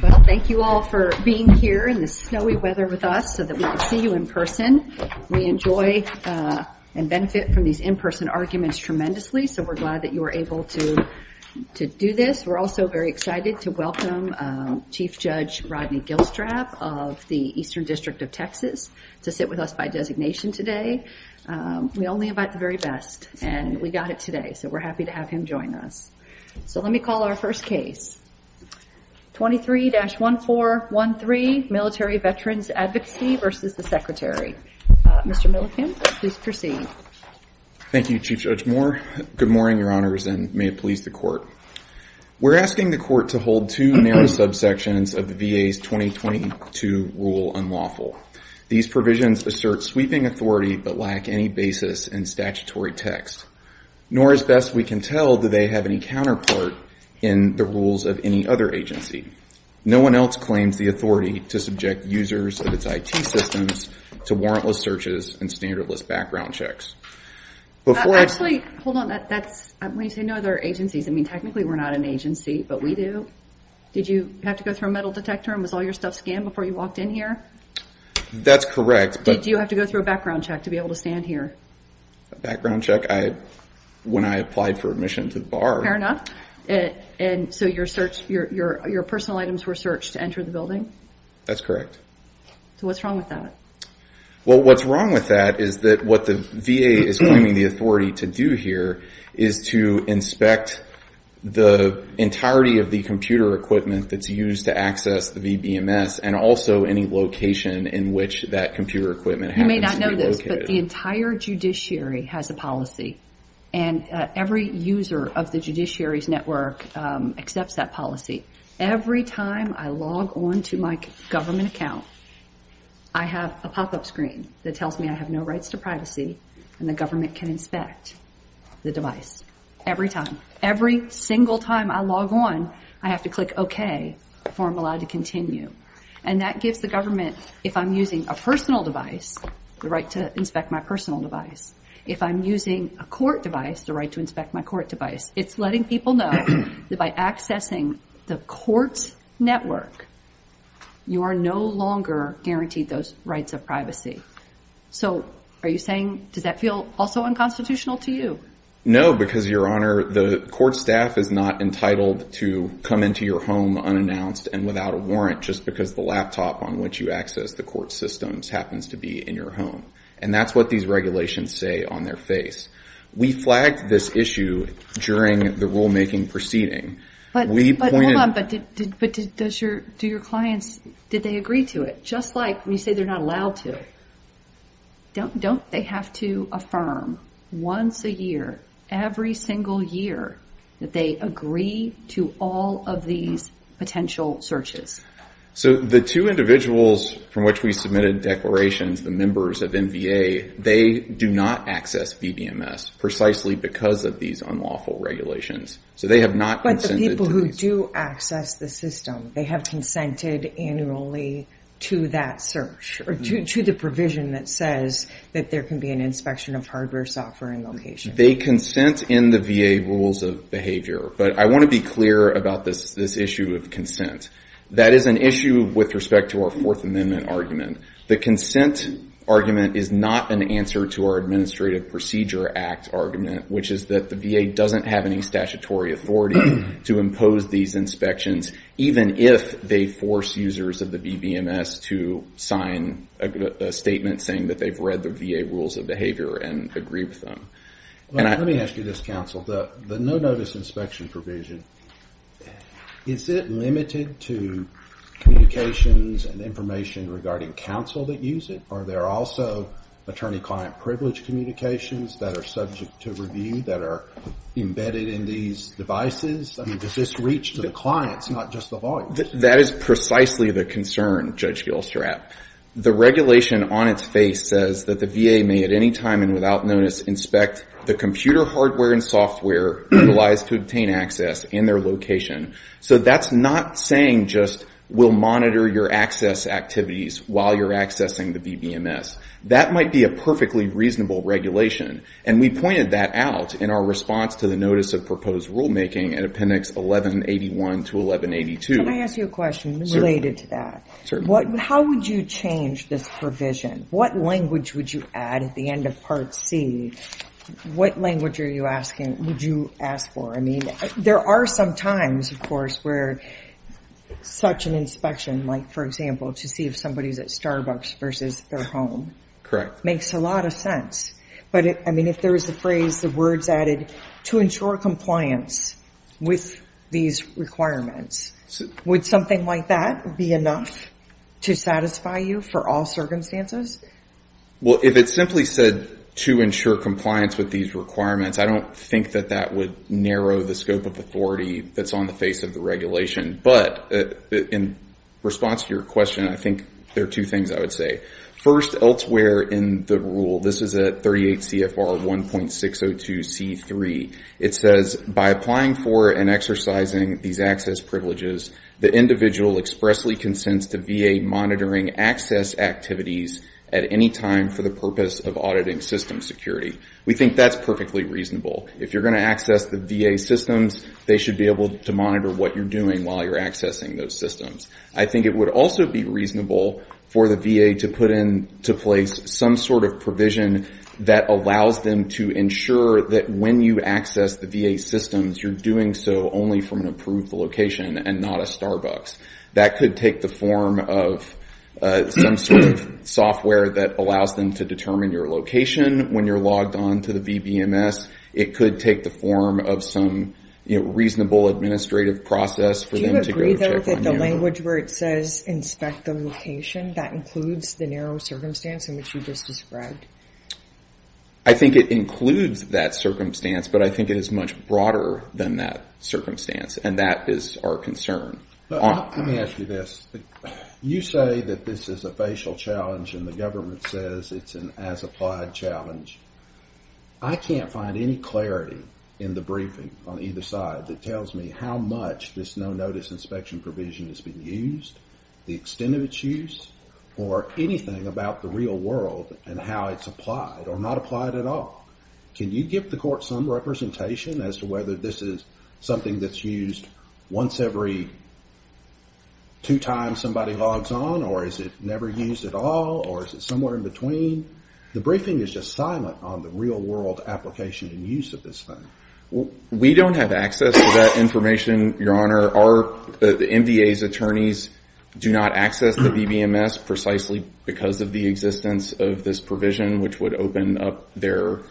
Well, thank you all for being here in the snowy weather with us so that we can see you in person. We enjoy and benefit from these in-person arguments tremendously, so we're glad that you were able to to do this. We're also very excited to welcome Chief Judge Rodney Gilstrap of the Eastern District of Texas to sit with us by designation today. We only have at the very best and we got it today, so we're happy to have him join us. So let me call our first case. 23-1413 Military Veterans Advocacy v. the Secretary. Mr. Millikin, please proceed. Thank you, Chief Judge Moore. Good morning, your honors, and may it please the court. We're asking the court to hold two narrow subsections of the VA's 2022 rule unlawful. These provisions assert sweeping authority but lack any basis in statutory text, nor as best we can tell do they have any counterpart in the rules of any other agency. No one else claims the authority to subject users of its IT systems to warrantless searches and standardless background checks. Actually, hold on. When you say no other agencies, I mean technically we're not an agency, but we do. Did you have to go through a metal detector and was all your stuff scanned before you walked in here? That's correct. Did you have to go through a background check to be able to stand here? A background check when I applied for admission to the bar. Fair enough. And so your personal items were searched to enter the building? That's correct. So what's wrong with that? Well, what's wrong with that is that what the VA is claiming the authority to do here is to inspect the entirety of the computer equipment that's used to access the VBMS and also any location in which that computer equipment happens to be located. You may not know this, but the entire judiciary has a policy and every user of the judiciary's network accepts that policy. Every time I log on to my government account, I have a pop-up screen that tells me I have no rights to privacy and the government can inspect the device. Every time. Every single time I log on, I have to click okay before I'm allowed to continue. And that gives the government, if I'm using a personal device, the right to inspect my personal device. If I'm using a court device, the right to inspect my court device. It's letting people know that by accessing the court's network, you are no longer guaranteed those rights of privacy. So are you saying, does that feel also unconstitutional to you? No, because your honor, the court staff is not entitled to come into your home unannounced and without a warrant just because the laptop on which you access the court systems happens to be in your home. And that's what these regulations say on their face. We flagged this issue during the rulemaking proceeding. But hold on, but did your clients, did they agree to it? Just like when you say they're not allowed to, don't they have to affirm once a year, every single year, that they agree to all of these potential searches? So the two individuals from which we submitted declarations, the members of NVA, they do not access VDMS precisely because of these unlawful regulations. So they have not consented. But the people who do access the system, they have consented annually to that search or to the provision that says that there can be an inspection of hardware, software, and location. They consent in the VA rules of behavior. But I want to be clear about this issue of consent. That is an issue with respect to our Fourth Amendment argument. The consent argument is not an answer to our Administrative Procedure Act argument, which is that the VA doesn't have any statutory authority to impose these inspections, even if they force users of the VDMS to sign a statement saying that they've read the VA rules of behavior and agree with them. Let me ask you this, counsel. The no-notice inspection provision, is it limited to communications and information regarding counsel that use it? Or are there also attorney-client privilege communications that are subject to V that are embedded in these devices? I mean, does this reach to the clients, not just the lawyers? That is precisely the concern, Judge Gilstrap. The regulation on its face says that the VA may at any time and without notice inspect the computer hardware and software utilized to obtain access in their location. So that's not saying just we'll monitor your access activities while you're accessing the VDMS. That might be a perfectly reasonable regulation. And we pointed that out in our response to the Notice of Proposed Rulemaking in Appendix 1181 to 1182. Can I ask you a question related to that? Certainly. How would you change this provision? What language would you add at the end of Part C? What language are you asking, would you ask for? I mean, there are some times, of course, where such an inspection, like for example, to see if somebody's Starbucks versus their home. Correct. Makes a lot of sense. But I mean, if there is the phrase, the words added, to ensure compliance with these requirements, would something like that be enough to satisfy you for all circumstances? Well, if it simply said to ensure compliance with these requirements, I don't think that that would narrow the scope of authority that's on the face of the things I would say. First, elsewhere in the rule, this is at 38 CFR 1.602C3. It says, by applying for and exercising these access privileges, the individual expressly consents to VA monitoring access activities at any time for the purpose of auditing system security. We think that's perfectly reasonable. If you're going to access the VA systems, they should be able to monitor what you're doing while you're accessing those systems. I think it would also be reasonable for the VA to put into place some sort of provision that allows them to ensure that when you access the VA systems, you're doing so only from an approved location and not a Starbucks. That could take the form of some sort of software that allows them to determine your location when you're logged on to the VBMS. It could take the form of some reasonable administrative process for them to go check on you. Do you agree, though, that the language where it says inspect the location, that includes the narrow circumstance in which you just described? I think it includes that circumstance, but I think it is much broader than that circumstance, and that is our concern. Let me ask you this. You say that this is a facial challenge, and the government says it's an as-applied challenge. I can't find any clarity in the briefing on either side that tells me how much this no-notice inspection provision has been used, the extent of its use, or anything about the real world and how it's applied or not applied at all. Can you give the court some representation as to whether this is something that's used once every two times somebody logs on, or is it never used at all, or is it somewhere in between? The briefing is just silent on the real-world application and use of this thing. We don't have access to that information, Your Honor. Our MVA's attorneys do not access the VBMS precisely because of the existence of this provision, which would open up their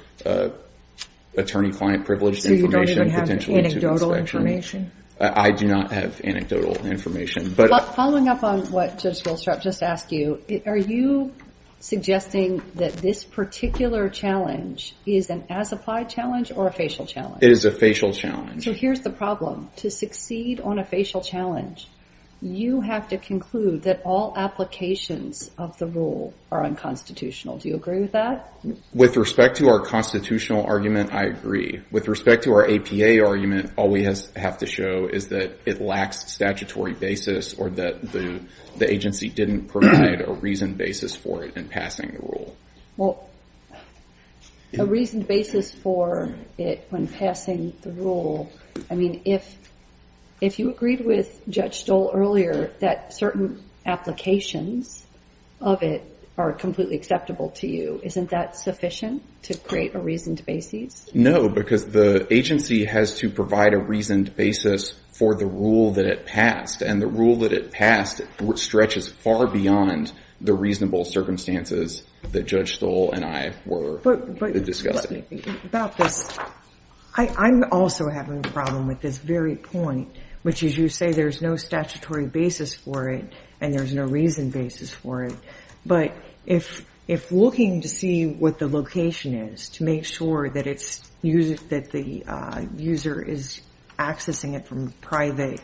attorney-client privilege information, potentially, to the inspection. So you don't even have anecdotal information? I do not have anecdotal information. Following up on what Judge Willstrop just asked you, are you suggesting that this particular challenge is an as-applied challenge or a facial challenge? It is a facial challenge. So here's the problem. To succeed on a facial challenge, you have to conclude that all applications of the rule are unconstitutional. Do you agree with that? With respect to our constitutional argument, I agree. With respect to our APA argument, all we have to show is that it lacks statutory basis or that the agency didn't provide a reasoned basis for it in passing the rule. Well, a reasoned basis for it when passing the rule, I mean, if you agreed with Judge Stoll earlier that certain applications of it are completely acceptable to you, isn't that sufficient to create a reasoned basis? No, because the agency has to provide a reasoned basis for the rule that it passed, and the rule that it passed stretches far beyond the reasonable circumstances that Judge Stoll and I were discussing. But let me think about this. I'm also having a problem with this very point, which is you say there's no statutory basis for it and there's no reasoned basis for it. But if looking to see what the location is to make sure that the user is accessing it from a private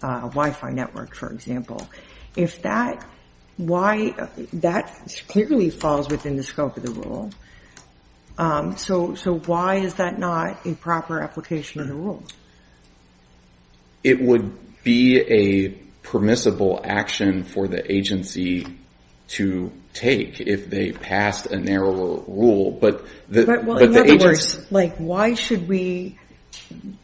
Wi-Fi network, for example, that clearly falls within the scope of the rule. So why is that not a proper application of the rule? It would be a permissible action for the agency to take if they passed a narrower rule, but the agency... But in other words, like, why should we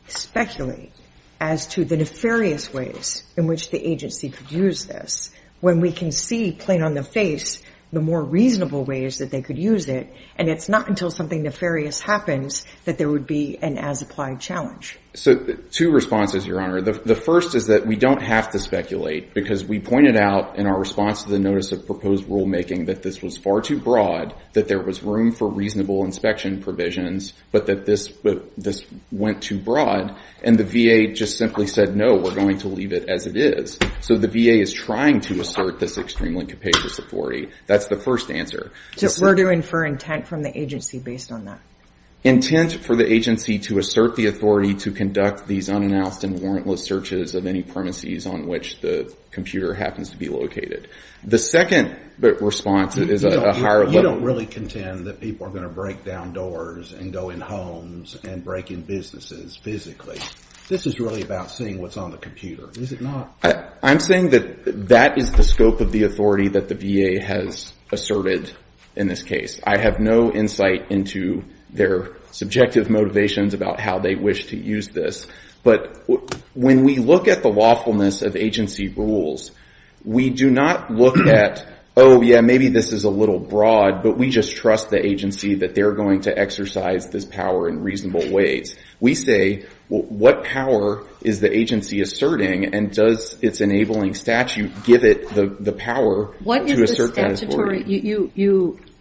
speculate as to the nefarious ways in which the agency could use this when we can see plain on the face the more reasonable ways that they could use it, and it's not until something nefarious happens that there would be an as-applied challenge? So two responses, Your Honor. The first is that we don't have to speculate because we pointed out in our response to the notice of proposed rulemaking that this was far too broad, that there was room for reasonable inspection provisions, but that this went too broad, and the VA just simply said, no, we're going to leave it as it is. So the VA is trying to assert this extremely capacious authority. That's the first answer. So we're to infer intent from the agency based on that? Intent for the agency to assert the authority to conduct these unannounced and warrantless searches of any premises on which the computer happens to be located. The second response is a higher level... You don't really contend that people are going to break down doors and go in homes and break in businesses physically. This is really about seeing what's on the computer, is it not? I'm saying that that is the scope of the authority that the VA has asserted in this case. I have no insight into their subjective motivations about how they wish to use this. But when we look at the lawfulness of agency rules, we do not look at, oh yeah, maybe this is a little broad, but we just trust the agency that they're going to exercise this power in reasonable ways. We say, what power is the agency asserting and does its enabling statute give it the power to assert that authority?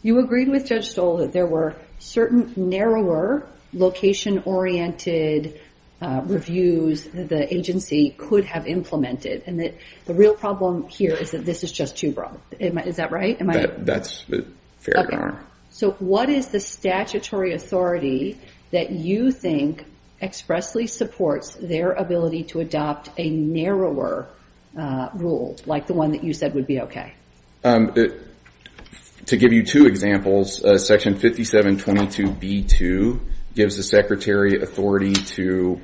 You agreed with Judge Stoll that there were certain narrower location-oriented reviews that the agency could have implemented and that the real problem here is that this is just too broad. Is that right? That's fair, Your Honor. So what is the statutory authority that you think expressly supports their ability to adopt a narrower rule like the one that you said would be okay? To give you two examples, Section 5722B2 gives the Secretary authority to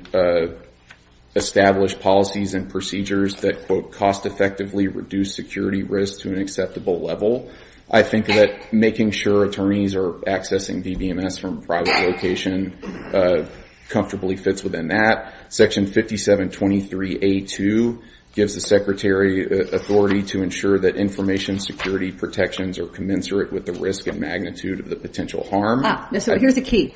establish policies and procedures that, quote, cost-effectively reduce security risk to an acceptable level. I think that making sure attorneys are accessing DBMS from a private location comfortably fits within that. Section 5723A2 gives the Secretary authority to ensure that security protections are commensurate with the risk and magnitude of the potential harm. Here's the key.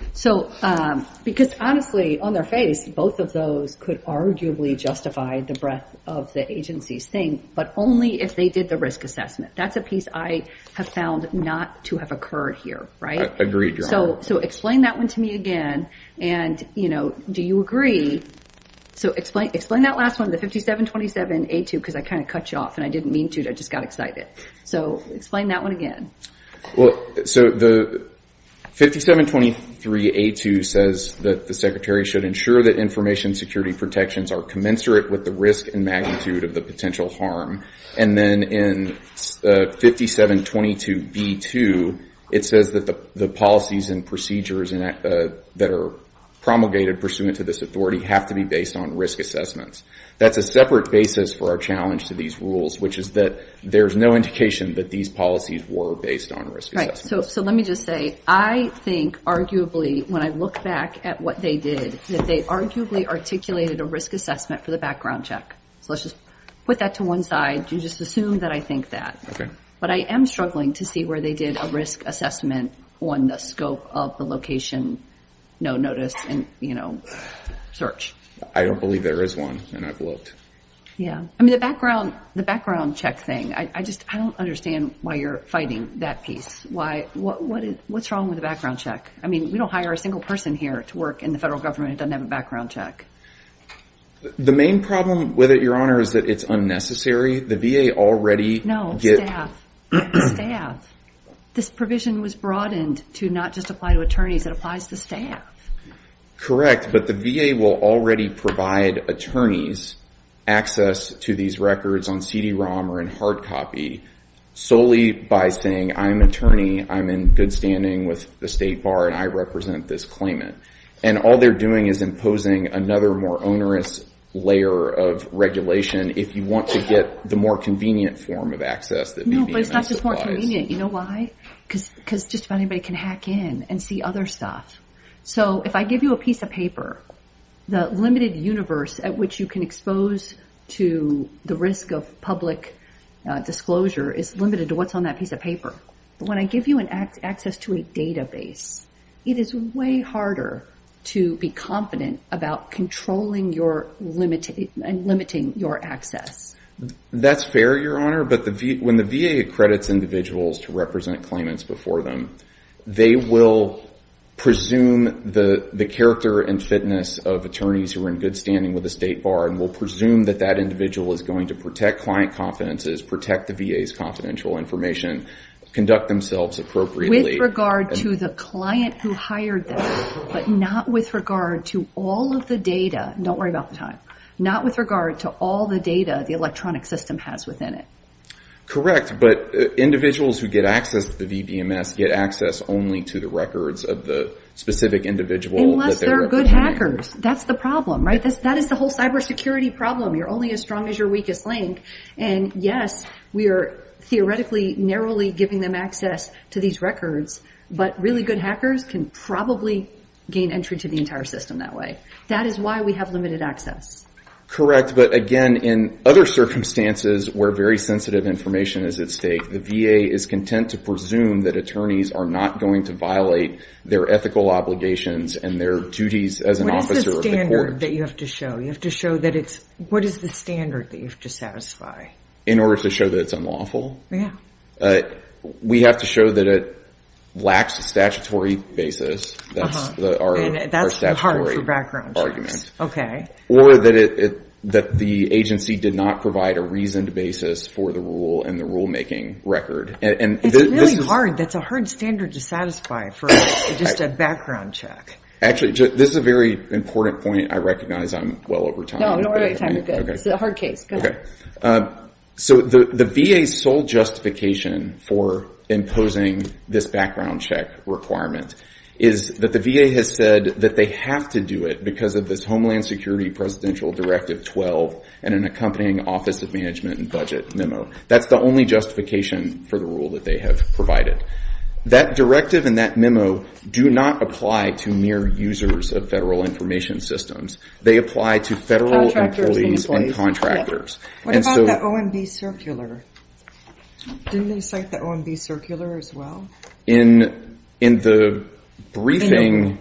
Because honestly, on their face, both of those could arguably justify the breadth of the agency's thing, but only if they did the risk assessment. That's a piece I have found not to have occurred here, right? Agreed, Your Honor. So explain that one to me again. Do you agree? Explain that last one, the 5727A2, because I kind of cut you off and I didn't mean to. I just got excited. So explain that one again. Well, so the 5723A2 says that the Secretary should ensure that information security protections are commensurate with the risk and magnitude of the potential harm. And then in 5722B2, it says that the policies and procedures that are promulgated pursuant to this authority have to be based on risk assessments. That's a separate basis for our challenge to these rules, which is that there's no indication that these policies were based on risk assessments. So let me just say, I think arguably, when I look back at what they did, that they arguably articulated a risk assessment for the background check. So let's just put that to one side. You just assume that I think that. But I am struggling to see where they did a risk assessment on the scope of the location, no notice, and search. I don't believe there is one. And I've looked. Yeah. I mean, the background check thing, I just don't understand why you're fighting that piece. Why? What's wrong with the background check? I mean, we don't hire a single person here to work in the federal government that doesn't have a background check. The main problem with it, Your Honor, is that it's unnecessary. The VA already- No. The staff. The staff. This provision was broadened to not just apply to attorneys. It applies to staff. Correct. But the VA will already provide attorneys access to these records on CD-ROM or in hard copy solely by saying, I'm an attorney. I'm in good standing with the state bar, and I represent this claimant. And all they're doing is imposing another more onerous layer of regulation if you want to get the more convenient form of access that VA supplies. No, but it's not just more convenient. You know why? Because just about anybody can hack in and see other stuff. So if I give you a piece of paper, the limited universe at which you can expose to the risk of public disclosure is limited to what's on that piece of paper. When I give you access to a database, it is way harder to be confident about controlling your limit and limiting your access. That's fair, Your Honor. But when the VA accredits individuals to represent claimants before them, they will presume the character and fitness of attorneys who are in good standing with the state bar and will presume that that individual is going to protect client confidences, protect the VA's confidential information, conduct themselves appropriately- With regard to the client who hired them, but not with regard to all of the data. Don't worry about the time. Not with regard to all the data the electronic system has within it. Correct. But individuals who get access to the VDMS get access only to the records of the specific individual- Unless they're good hackers. That's the problem, right? That is the whole cyber security problem. You're only as strong as your weakest link. And yes, we are theoretically narrowly giving them access to these records, but really good hackers can probably gain entry to the entire system that way. That is why we have limited access. Correct. But again, in other circumstances where very sensitive information is at stake, the VA is content to presume that attorneys are not going to violate their ethical obligations and their duties as an officer of the court- What is the standard that you have to show? You have to show that it's- What is the standard that you have to satisfy? In order to show that it's unlawful? Yeah. We have to show that it lacks a statutory basis. That's our statutory- Argument. Okay. Or that the agency did not provide a reasoned basis for the rule and the rulemaking record. It's really hard. That's a hard standard to satisfy for just a background check. Actually, this is a very important point. I recognize I'm well over time. No, you're not over time. You're good. It's a hard case. Go ahead. So the VA's sole justification for imposing this background check requirement is that the VA has that they have to do it because of this Homeland Security Presidential Directive 12 and an accompanying Office of Management and Budget memo. That's the only justification for the rule that they have provided. That directive and that memo do not apply to mere users of federal information systems. They apply to federal employees and contractors. What about the OMB circular? Didn't they cite the OMB circular as well? In the briefing,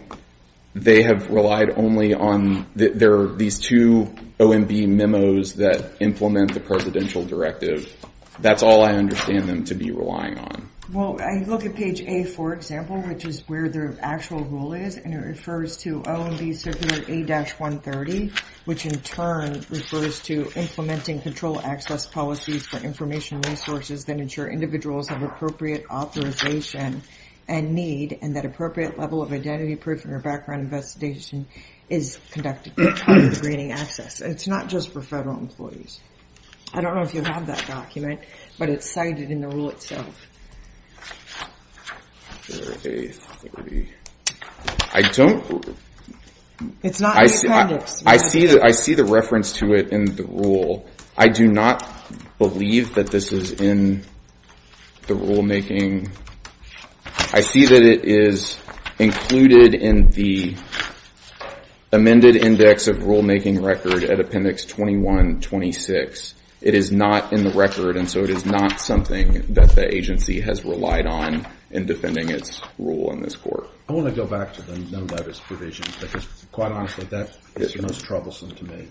they have relied only on these two OMB memos that implement the Presidential Directive. That's all I understand them to be relying on. Well, I look at page A, for example, which is where the actual rule is, and it refers to OMB circular A-130, which in turn refers to implementing control access policies for information resources that ensure individuals have appropriate authorization and need, and that appropriate level of identity proof in your background investigation is conducted before granting access. It's not just for federal employees. I don't know if you have that document, but it's cited in the rule itself. Circular A-130. I don't... It's not in the context. I see the reference to it in the rule. I do not believe that this is in the rulemaking. I see that it is included in the amended index of rulemaking record at Appendix 21-26. It is not in the record, and so it is not something that the agency has relied on in defending its rule in this court. I want to go back to the no-notice provision, because quite honestly, that is the most troublesome to me.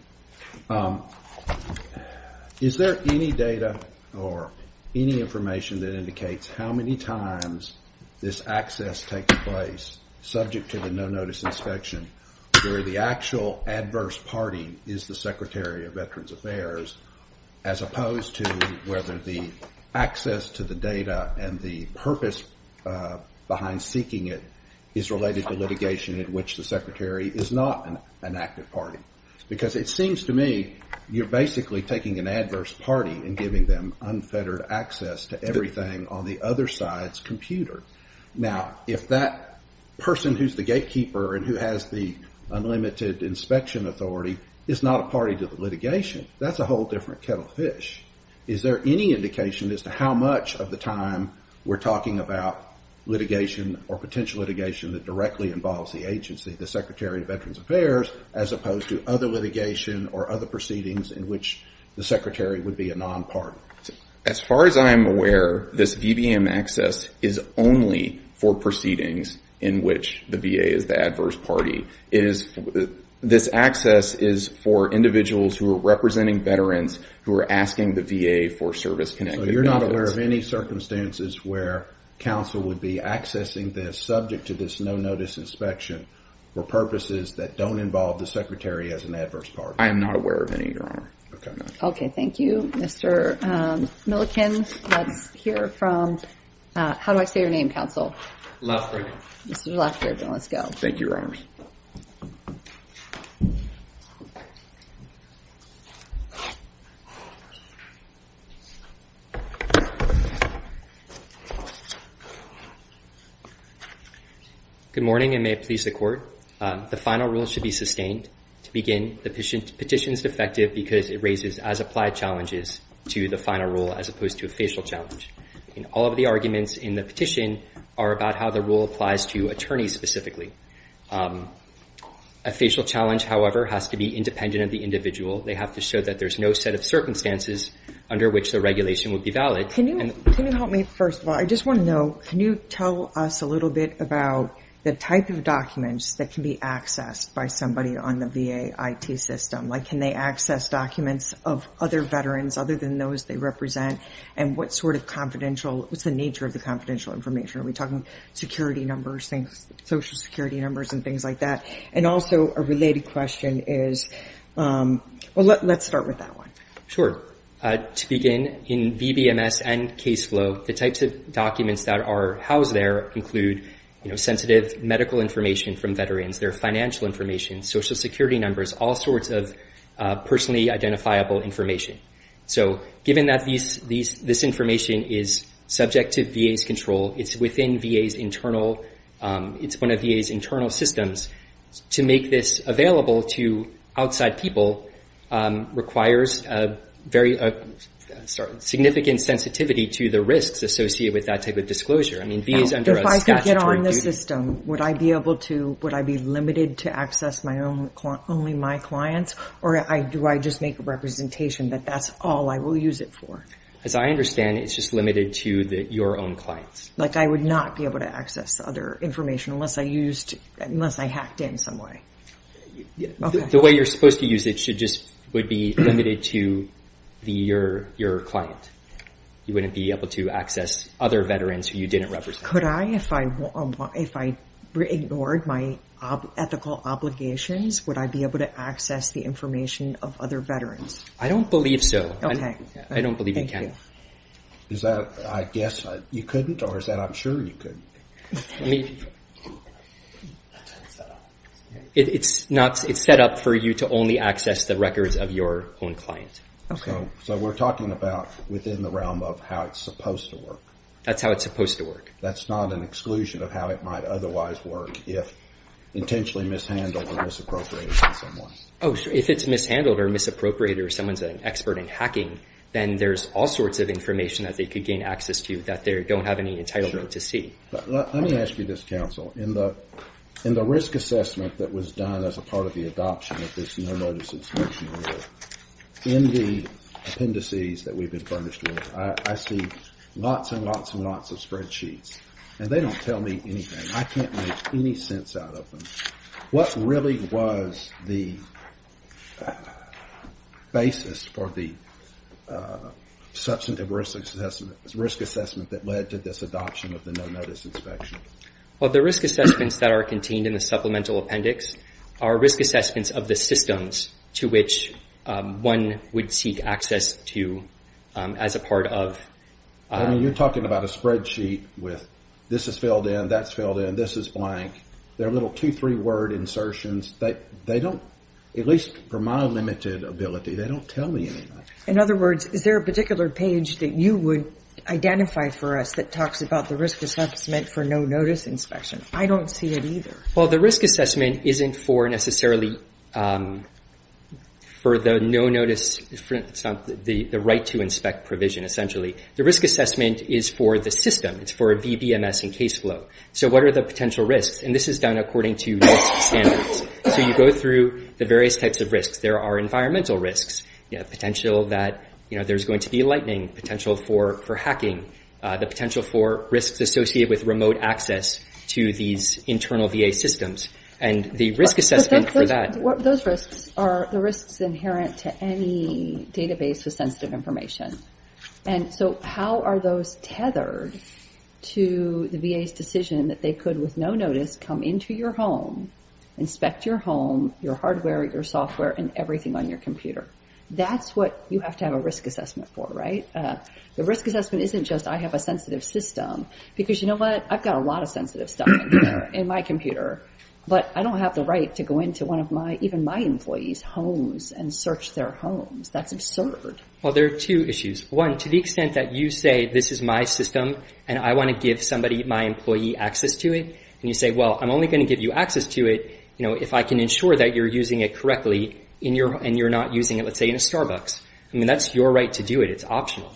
Is there any data or any information that indicates how many times this access takes place subject to the no-notice inspection where the actual adverse party is the Secretary of Veterans Affairs as opposed to whether the access to the data and the purpose behind seeking it is related to litigation in which the Secretary is not an active party? Because it seems to me you're basically taking an adverse party and giving them unfettered access to everything on the other side's computer. Now, if that person who's the gatekeeper and who has the unlimited inspection authority is not a party to the litigation, that's a whole different kettle of fish. Is there any indication as to how much of the time we're talking about litigation or potential litigation that directly involves the agency, the Secretary of Veterans Affairs, as opposed to other litigation or other proceedings in which the Secretary would be a non-party? As far as I'm aware, this VBM access is only for proceedings in which the VA is the adverse party. It is, this access is for individuals who are representing veterans who are asking the VA for service-connected benefits. So, you're not aware of any circumstances where counsel would be accessing this subject to this no-notice inspection for purposes that don't involve the Secretary as an adverse party? I am not aware of any, Your Honor. Okay, thank you. Mr. Milliken, let's hear from, how do I say your name, counsel? Loughrigan. Mr. Loughrigan, let's go. Thank you, Your Honor. Good morning, and may it please the Court. The final rule should be sustained. To begin, the petition is defective because it raises as-applied challenges to the final rule as opposed to a facial challenge. All of the arguments in the petition are about how the VA is going to respond. A facial challenge, however, has to be independent of the individual. They have to show that there's no set of circumstances under which the regulation would be valid. Can you help me, first of all? I just want to know, can you tell us a little bit about the type of documents that can be accessed by somebody on the VA IT system? Like, can they access documents of other veterans other than those they represent? And what sort of confidential, what's the nature of the confidential information? Are we talking security numbers, social security numbers, and things like that? And also, a related question is, well, let's start with that one. Sure. To begin, in VBMS and Case Flow, the types of documents that are housed there include sensitive medical information from veterans, their financial information, social security numbers, all sorts of personally identifiable information. So, given that this information is subject to VA's control, it's within VA's internal, it's one of VA's internal systems, to make this available to outside people requires a very, sorry, significant sensitivity to the risks associated with that type of disclosure. I mean, VA is under a statutory duty. If I could get on the system, would I be able to, would I be limited to access only my clients, or do I just make a representation that that's all I will use it for? As I understand it, it's just limited to your own clients. Like I would not be able to access other information unless I used, unless I hacked in some way. Okay. The way you're supposed to use it should just, would be limited to your client. You wouldn't be able to access other veterans who you didn't represent. Could I, if I ignored my ethical obligations, would I be able to access the information of other veterans? I don't believe so. Okay. I don't believe you can. Is that, I guess you couldn't, or is that I'm sure you could? It's not, it's set up for you to only access the records of your own client. Okay. So we're talking about within the realm of how it's supposed to work. That's how it's supposed to work. That's not an exclusion of how it might otherwise work if intentionally mishandled or misappropriated by someone. Oh, if it's mishandled or misappropriated, or someone's an expert in hacking, then there's all sorts of information that they could gain access to that they don't have any entitlement to see. Let me ask you this, counsel, in the risk assessment that was done as a part of the adoption of this no-notice inspection rule, in the appendices that we've been furnished with, I see lots and lots and lots of spreadsheets, and they don't tell me anything. I can't make any sense out of them. What really was the basis for the substantive risk assessment that led to this adoption of the no-notice inspection? Well, the risk assessments that are contained in the supplemental appendix are risk assessments of the systems to which one would seek access to as a part of... I mean, you're talking about a spreadsheet with this is filled in, that's filled in, this is blank. They're little two, three-word insertions that they don't, at least for my limited ability, they don't tell me anything. In other words, is there a particular page that you would identify for us that talks about the risk assessment for no-notice inspection? I don't see it either. Well, the risk assessment isn't for necessarily for the no-notice, it's not the right to inspect provision, essentially. The risk assessment is for the system. It's for a VBMS and case flow. So what are the potential risks? And this is done according to risk standards. So you go through the various types of risks. There are environmental risks, potential that there's going to be lightning, potential for hacking, the potential for risks associated with remote access to these internal VA systems. And the risk assessment for that... Those risks are the risks inherent to any database with sensitive information. And so how are those tethered to the VA's decision that they could, with no notice, come into your home, inspect your home, your hardware, your software, and everything on your computer? That's what you have to have a risk assessment for, right? The risk assessment isn't just, I have a sensitive system. Because you know what? I've got a lot of sensitive stuff in my computer, but I don't have the right to go into one of my, even my employees' homes and search their homes. That's absurd. Well, there are two issues. One, to the extent that you say, this is my system and I want to give somebody, my employee, access to it. And you say, well, I'm only going to give you access to it if I can ensure that you're using it correctly and you're not using it, let's say, in a Starbucks. I mean, that's your right to do it. It's optional.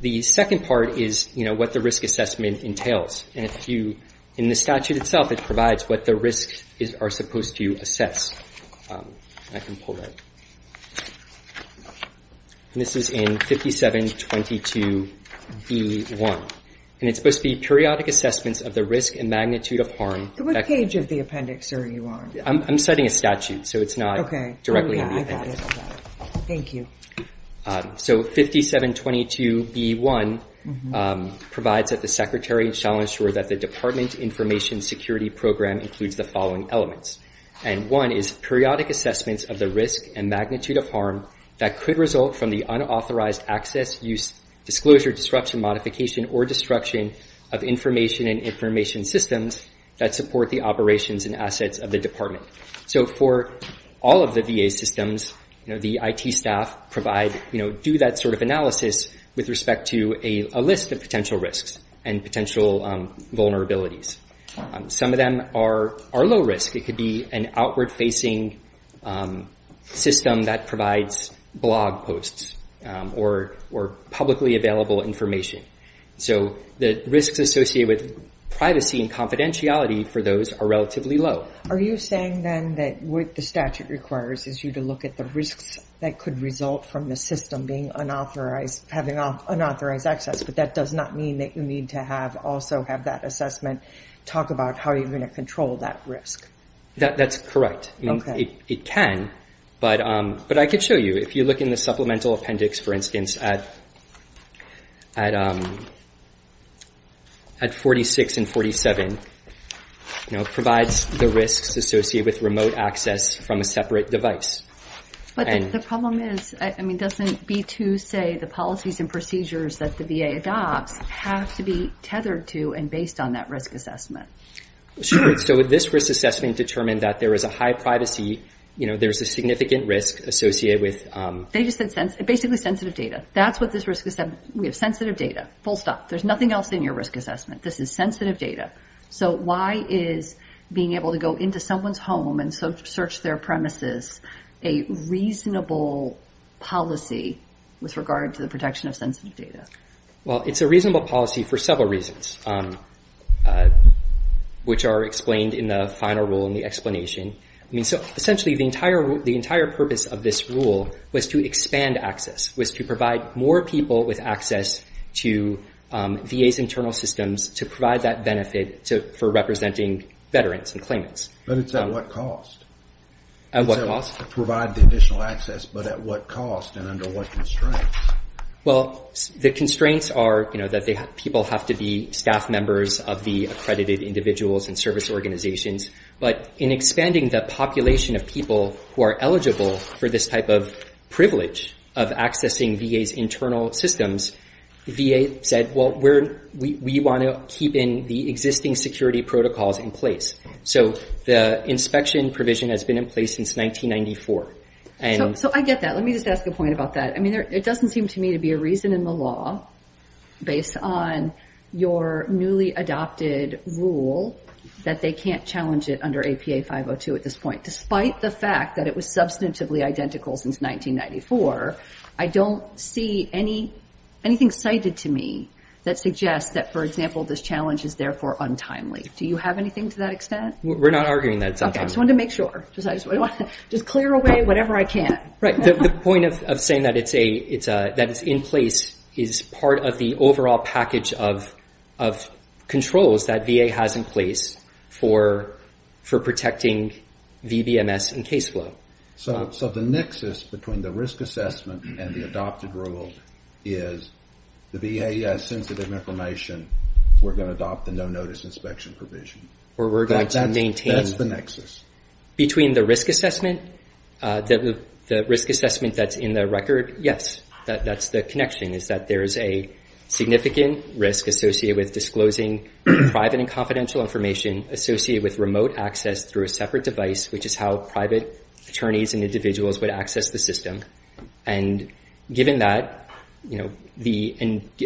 The second part is what the risk assessment entails. And if you, in the statute itself, it provides what the risks are supposed to assess. And I can pull that. And this is in 5722B1. And it's supposed to be periodic assessments of the risk and magnitude of harm. To what page of the appendix are you on? I'm citing a statute, so it's not directly in the appendix. Thank you. So 5722B1 provides that the Secretary shall ensure that the Department Information Security Program includes the following elements. And one is periodic assessments of the risk and magnitude of harm that could result from the unauthorized access, use, disclosure, disruption, modification, or destruction of information and information systems that support the operations and assets of the department. So for all of the VA systems, the IT staff provide, do that sort of analysis with respect to a list of potential risks and potential vulnerabilities. Some of them are low risk. It could be an outward facing system that provides blog posts or publicly available information. So the risks associated with privacy and confidentiality for those are relatively low. Are you saying then that what the statute requires is you to look at the risks that could result from the system being unauthorized, having unauthorized access, but that does not mean that you need to have also have that assessment talk about how you're going to control that risk? That's correct. It can, but I could show you. If you look in the supplemental appendix, for instance, at 46 and 47, it provides the risks associated with remote access from a separate device. But the problem is, I mean, doesn't B2 say the policies and procedures that the VA adopts have to be tethered to and based on that risk assessment? Sure. So this risk assessment determined that there is a high privacy, you know, there's a significant risk associated with... They just said basically sensitive data. That's what this risk assessment... We have sensitive data, full stop. There's nothing else in your risk assessment. This is sensitive data. So why is being able to go into someone's home and search their premises a reasonable policy with regard to the protection of sensitive data? Well, it's a reasonable policy for several reasons. Which are explained in the final rule in the explanation. I mean, so essentially the entire purpose of this rule was to expand access, was to provide more people with access to VA's internal systems to provide that benefit for representing veterans and claimants. But it's at what cost? At what cost? Provide the additional access, but at what cost and under what constraints? Well, the constraints are, you know, that people have to be staff members of the accredited individuals and service organizations. But in expanding the population of people who are eligible for this type of privilege of accessing VA's internal systems, VA said, well, we want to keep in the existing security protocols in place. So the inspection provision has been in place since 1994. So I get that. Let me just ask a point about that. I mean, it doesn't seem to me to be a reason in the law based on your newly adopted rule that they can't challenge it under APA 502 at this point. Despite the fact that it was substantively identical since 1994, I don't see anything cited to me that suggests that, for example, this challenge is therefore untimely. Do you have anything to that extent? We're not arguing that. OK. I just wanted to make sure. Just clear away whatever I can. Right. The point of saying that it's in place is part of the overall package of controls that VA has in place for protecting VBMS and case flow. So the nexus between the risk assessment and the adopted rule is the VA has sensitive information. We're going to adopt the no-notice inspection provision. Or we're going to maintain. That's the nexus. Between the risk assessment, the risk assessment that's in the record, yes, that's the connection is that there is a significant risk associated with disclosing private and confidential information associated with remote access through a separate device, which is how private attorneys and individuals would access the system. And given that, and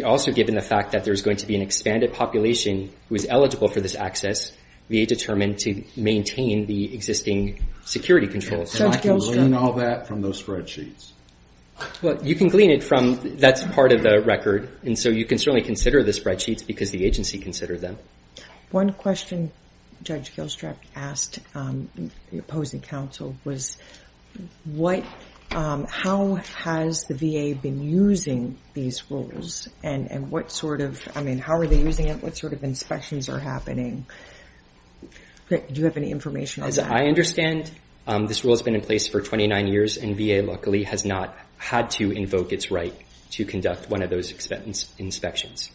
also given the fact that there's going to be an expanded population who is eligible for this access, VA determined to maintain the existing security controls. And I can glean all that from those spreadsheets? Well, you can glean it from, that's part of the record. And so you can certainly consider the spreadsheets because the agency considered them. One question Judge Gilstrap asked the opposing counsel was, how has the VA been using these rules? And what sort of, I mean, how are they using it? What sort of inspections are happening? Do you have any information on that? I understand this rule has been in place for 29 years and VA luckily has not had to invoke its right to conduct one of those inspections.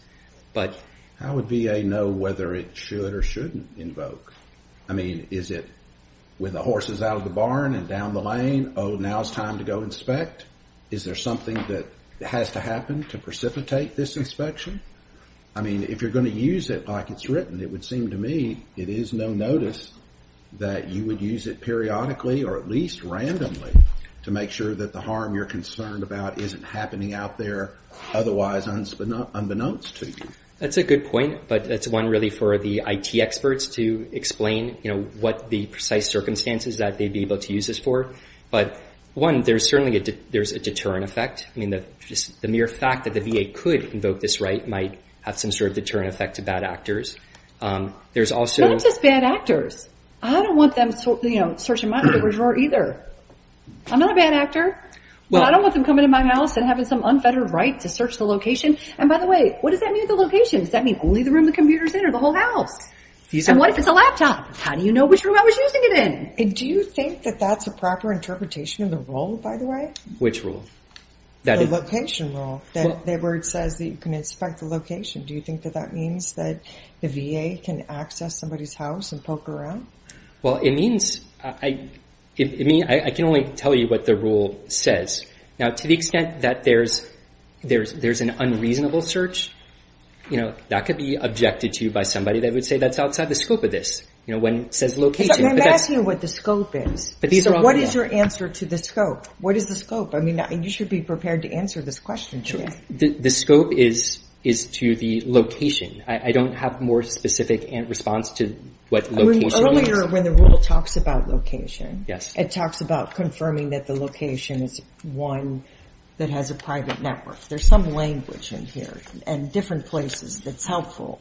But how would VA know whether it should or shouldn't invoke? I mean, is it with the horses out of the barn and down the lane? Oh, now it's time to go inspect. Is there something that has to happen to precipitate this inspection? I mean, if you're going to use it like it's written, it would seem to me it is no notice that you would use it periodically or at least randomly to make sure that the harm you're concerned about isn't happening out there otherwise unbeknownst to you. That's a good point. But that's one really for the IT experts to explain, you know, what the precise circumstances that they'd be able to use this for. But one, there's certainly, there's a deterrent effect. I mean, the mere fact that the VA could invoke this right might have some sort of deterrent effect to bad actors. There's also... I don't want them, you know, searching my underwear drawer either. I'm not a bad actor, but I don't want them coming in my house and having some unfettered right to search the location. And by the way, what does that mean, the location? Does that mean only the room the computer's in or the whole house? And what if it's a laptop? How do you know which room I was using it in? Do you think that that's a proper interpretation of the rule, by the way? Which rule? The location rule, where it says that you can inspect the location. Do you think that that means that the VA can access somebody's house and poke around? Well, it means, I can only tell you what the rule says. Now, to the extent that there's an unreasonable search, you know, that could be objected to by somebody that would say that's outside the scope of this. You know, when it says location... I'm asking what the scope is. So what is your answer to the scope? What is the scope? I mean, you should be prepared to answer this question. The scope is to the location. I don't have more specific response to what location is. Earlier, when the rule talks about location, it talks about confirming that the location is one that has a private network. There's some language in here and different places that's helpful.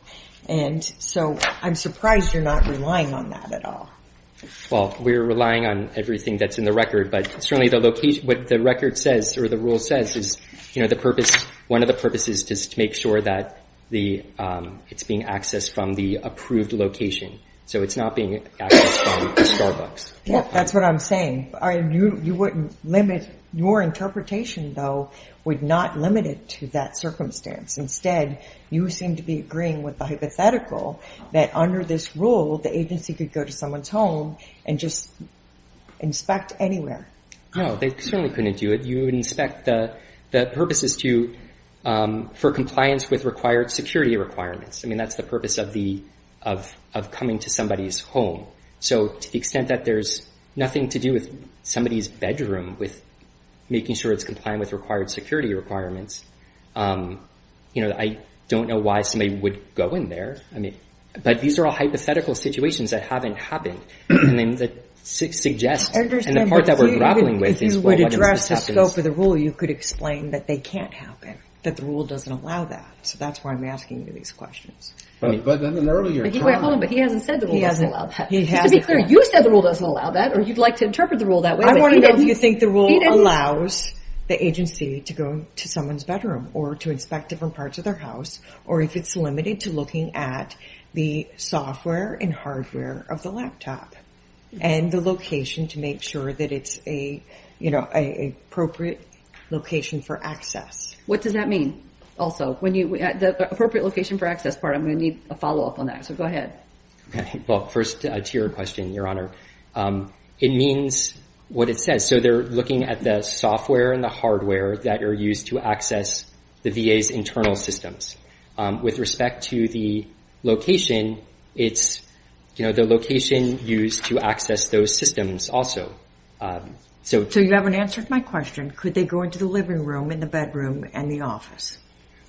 And so I'm surprised you're not relying on that at all. Well, we're relying on everything that's in the record. But certainly, what the record says or the rule says is, you know, the purpose, one of the purposes is to make sure that it's being accessed from the approved location. So it's not being accessed from Starbucks. Yeah, that's what I'm saying. I mean, you wouldn't limit... Your interpretation, though, would not limit it to that circumstance. Instead, you seem to be agreeing with the hypothetical that under this rule, the agency could go to someone's home and just inspect anywhere. No, they certainly couldn't do it. You would inspect the purposes for compliance with required security requirements. I mean, that's the purpose of coming to somebody's home. So to the extent that there's nothing to do with somebody's bedroom, with making sure it's compliant with required security requirements, you know, I don't know why somebody would go in there. But these are all hypothetical situations that haven't happened. And then that suggests... I understand, but if you would address the scope of the rule, you could explain that they can't happen, that the rule doesn't allow that. So that's why I'm asking you these questions. But in an earlier time... Wait, hold on. But he hasn't said the rule doesn't allow that. He hasn't. Just to be clear, you said the rule doesn't allow that, or you'd like to interpret the rule that way. I want to know if you think the rule allows the agency to go to someone's bedroom or to inspect different parts of their house, or if it's limited to looking at the software and hardware of the laptop and the location to make sure that it's an appropriate location for access. What does that mean? Also, the appropriate location for access part, I'm going to need a follow-up on that. So go ahead. Well, first to your question, Your Honor. It means what it says. So they're looking at the software and the hardware that are used to access the VA's internal systems. With respect to the location, it's the location used to access those systems also. So you haven't answered my question. Could they go into the living room, in the bedroom, and the office?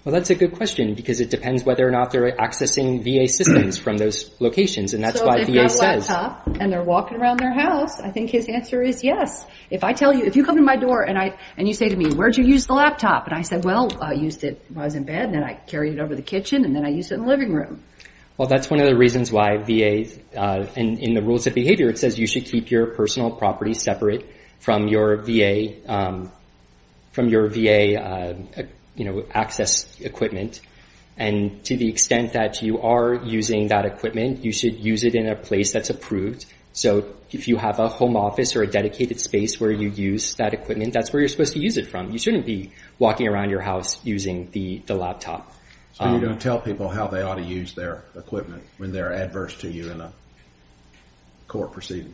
Well, that's a good question because it depends whether or not they're accessing VA systems from those locations. And that's why VA says... So if they've got a laptop and they're walking around their house, I think his answer is yes. If you come to my door and you say to me, where'd you use the laptop? And I said, well, I used it when I was in bed. Then I carried it over the kitchen and then I used it in the living room. Well, that's one of the reasons why VA... And in the rules of behavior, it says you should keep your personal property separate from your VA access equipment. And to the extent that you are using that equipment, you should use it in a place that's approved. So if you have a home office or a dedicated space where you use that equipment, that's where you're supposed to use it from. You shouldn't be walking around your house using the laptop. So you don't tell people how they ought to use their equipment when they're adverse to you in a court proceeding?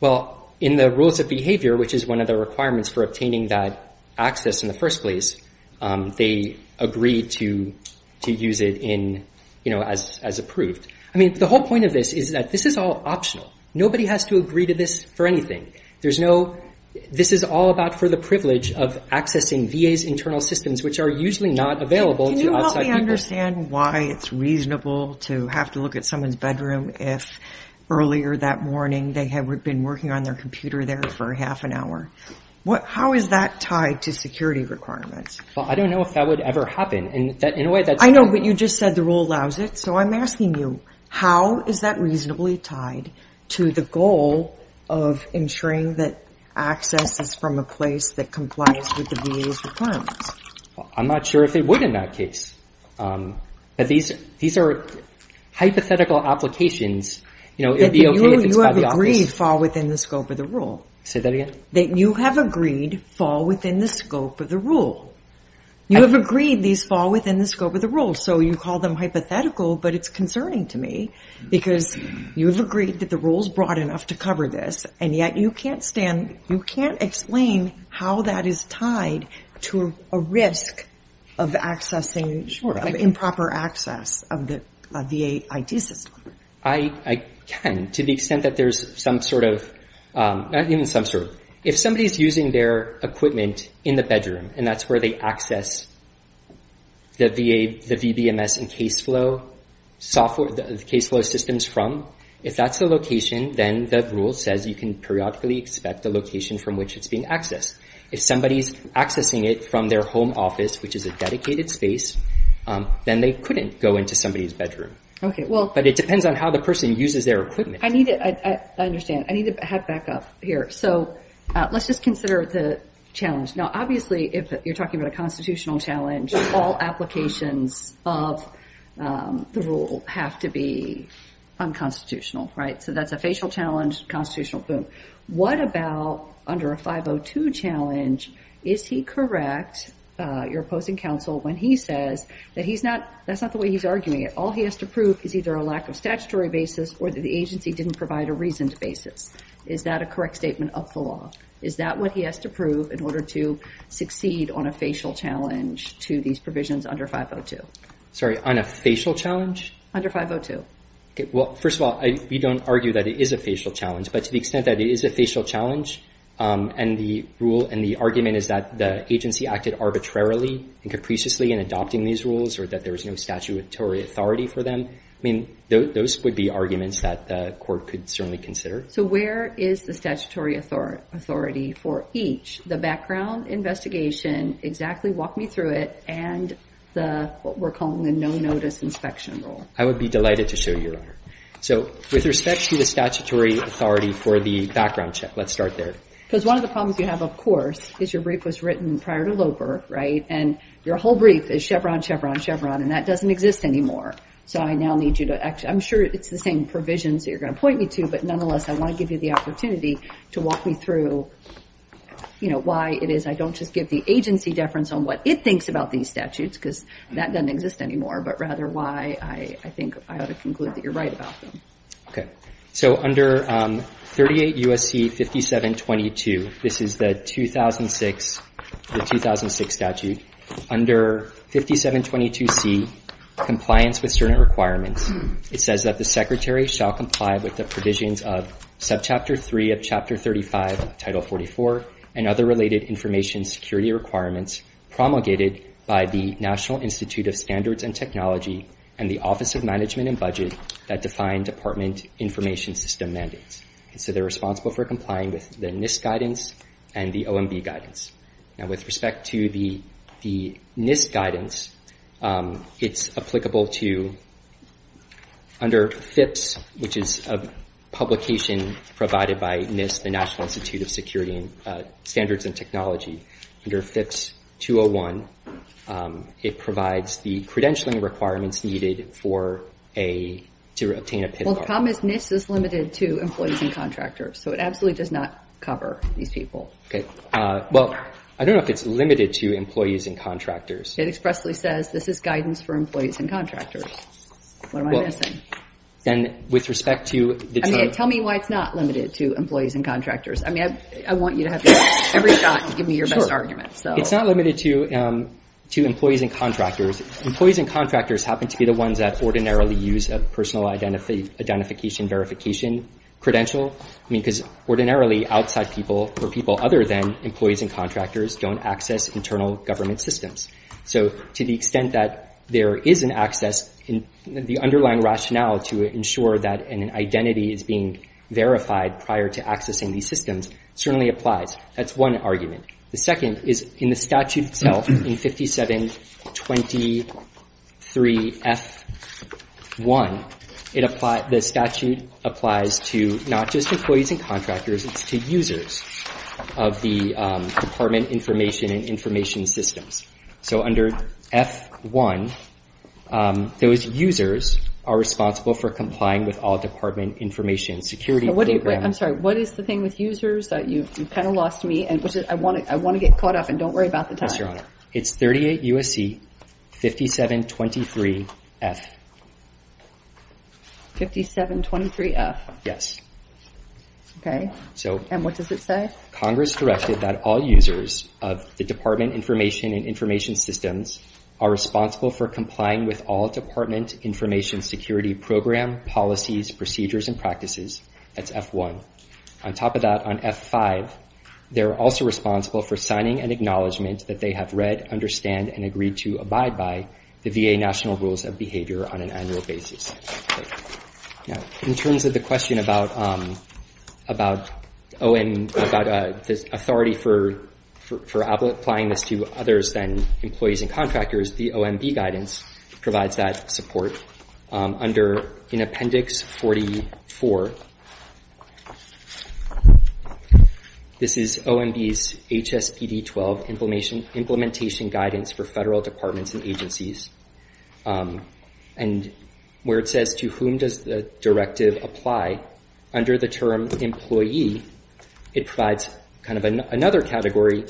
Well, in the rules of behavior, which is one of the requirements for obtaining that access in the first place, they agree to use it as approved. I mean, the whole point of this is that this is all optional. Nobody has to agree to this for anything. There's no... This is all about for the privilege of accessing VA's internal systems, which are usually not available to outside people. Can you help me understand why it's reasonable to have to look at someone's bedroom if earlier that morning they had been working on their computer there for half an hour? How is that tied to security requirements? Well, I don't know if that would ever happen. And in a way, that's... I know, but you just said the rule allows it. I'm asking you, how is that reasonably tied to the goal of ensuring that access is from a place that complies with the VA's requirements? I'm not sure if it would in that case. But these are hypothetical applications. It'd be okay if it's by the office. That you have agreed fall within the scope of the rule. Say that again? That you have agreed fall within the scope of the rule. You have agreed these fall within the scope of the rule. So you call them hypothetical, but it's concerning to me because you've agreed that the rule's broad enough to cover this. And yet, you can't stand... You can't explain how that is tied to a risk of accessing... Sure, I can. ...improper access of the VA IT system. I can, to the extent that there's some sort of... Not even some sort. If somebody's using their equipment in the bedroom, and that's where they access the VBMS and case flow systems from, if that's the location, then the rule says you can periodically expect the location from which it's being accessed. If somebody's accessing it from their home office, which is a dedicated space, then they couldn't go into somebody's bedroom. Okay, well... But it depends on how the person uses their equipment. I need to... I understand. I need to head back up here. So let's just consider the challenge. Now, obviously, if you're talking about a constitutional challenge, all applications of the rule have to be unconstitutional, right? So that's a facial challenge, constitutional, boom. What about under a 502 challenge? Is he correct, your opposing counsel, when he says that he's not... That's not the way he's arguing it. All he has to prove is either a lack of statutory basis or that the agency didn't provide a reasoned basis. Is that a correct statement of the law? Is that what he has to prove in order to succeed on a facial challenge to these provisions under 502? Sorry, on a facial challenge? Under 502. Okay, well, first of all, we don't argue that it is a facial challenge, but to the extent that it is a facial challenge and the rule and the argument is that the agency acted arbitrarily and capriciously in adopting these rules or that there was no statutory authority for them, I mean, those would be arguments that the court could certainly consider. So where is the statutory authority for each, the background investigation, exactly walk me through it, and what we're calling the no-notice inspection rule? I would be delighted to show you, Your Honor. So with respect to the statutory authority for the background check, let's start there. Because one of the problems you have, of course, is your brief was written prior to Loper, right? And your whole brief is Chevron, Chevron, Chevron, and that doesn't exist anymore. So I now need you to... I'm sure it's the same provisions that you're going to point me to, but nonetheless, I want to give you the opportunity to walk me through why it is I don't just give the agency deference on what it thinks about these statutes, because that doesn't exist anymore, but rather why I think I ought to conclude that you're right about them. Okay. So under 38 U.S.C. 5722, this is the 2006 statute. Under 5722C, Compliance with Certain Requirements, it says that the Secretary shall comply with the provisions of Subchapter 3 of Chapter 35, Title 44, and other related information security requirements promulgated by the National Institute of Standards and Technology and the Office of Management and Budget that define department information system mandates. And so they're responsible for complying with the NIST guidance and the OMB guidance. Now, with respect to the NIST guidance, it's applicable to under FIPS, which is a publication provided by NIST, the National Institute of Standards and Technology, under FIPS 201, it provides the credentialing requirements needed to obtain a PIV bar. Well, the problem is NIST is limited to employees and contractors, so it absolutely does not cover these people. Okay. Well, I don't know if it's limited to employees and contractors. It expressly says this is guidance for employees and contractors. What am I missing? And with respect to the... Tell me why it's not limited to employees and contractors. I mean, I want you to have every shot to give me your best argument, so... It's not limited to employees and contractors. Employees and contractors happen to be the ones that ordinarily use a personal identification verification credential, I mean, because ordinarily outside people or people other than employees and contractors don't access internal government systems. So to the extent that there is an access, the underlying rationale to ensure that an identity is being verified prior to accessing these systems certainly applies. That's one argument. The second is in the statute itself in 5723 F1, the statute applies to not just employees and contractors, it's to users of the department information and information systems. So under F1, those users are responsible for complying with all department information security program... I'm sorry, what is the thing with users that you kind of lost me and I want to get caught up and don't worry about the time. Yes, Your Honor. It's 38 U.S.C. 5723 F. 5723 F? Yes. Okay, and what does it say? Congress directed that all users of the department information and information systems are responsible for complying with all department information security program, policies, procedures, and practices. That's F1. On top of that, on F5, they're also responsible for signing an acknowledgement that they have read, understand, and agreed to abide by the VA national rules of behavior on an annual basis. Now, in terms of the question about this authority for applying this to others than employees and contractors, the OMB guidance provides that support. Under in Appendix 44, this is OMB's HSPD-12 implementation guidance for federal departments and agencies. And where it says to whom does the directive apply, under the term employee, it provides kind of another category,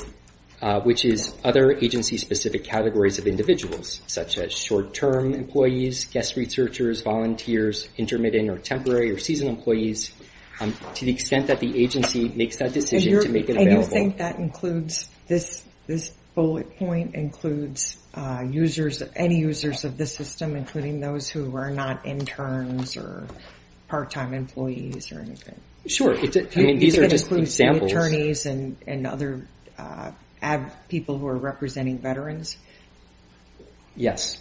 which is other agency-specific categories of individuals, such as short-term employees, guest researchers, volunteers, intermittent or temporary or seasonal employees, to the extent that the agency makes that decision to make it available. And you think that includes this bullet point, includes users, any users of the system, including those who are not interns or part-time employees or anything? I mean, these are just examples. and other people who are representing veterans? Yes.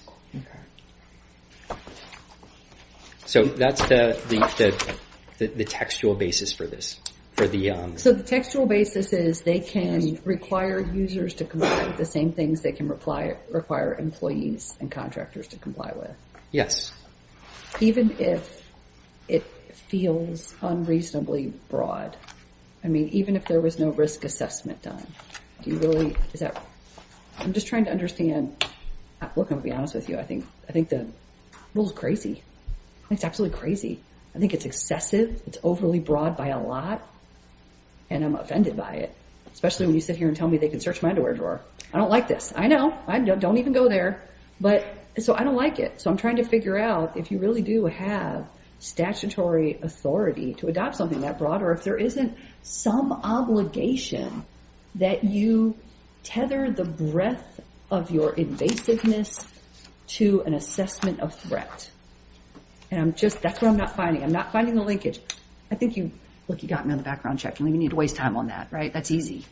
So that's the textual basis for this, for the... So the textual basis is they can require users to comply with the same things they can require employees and contractors to comply with? Even if it feels unreasonably broad, I mean, even if there was no risk assessment done, do you really, is that... I'm just trying to understand... Look, I'm gonna be honest with you. I think the rule is crazy. It's absolutely crazy. I think it's excessive. It's overly broad by a lot. And I'm offended by it, especially when you sit here and tell me they can search my underwear drawer. I don't like this. I know, don't even go there. But so I don't like it. So I'm trying to figure out if you really do have statutory authority to adopt something that broad, or if there isn't some obligation that you tether the breadth of your invasiveness to an assessment of threat. And I'm just, that's what I'm not finding. I'm not finding the linkage. I think you, look, you got me on the background check. You need to waste time on that, right? That's easy.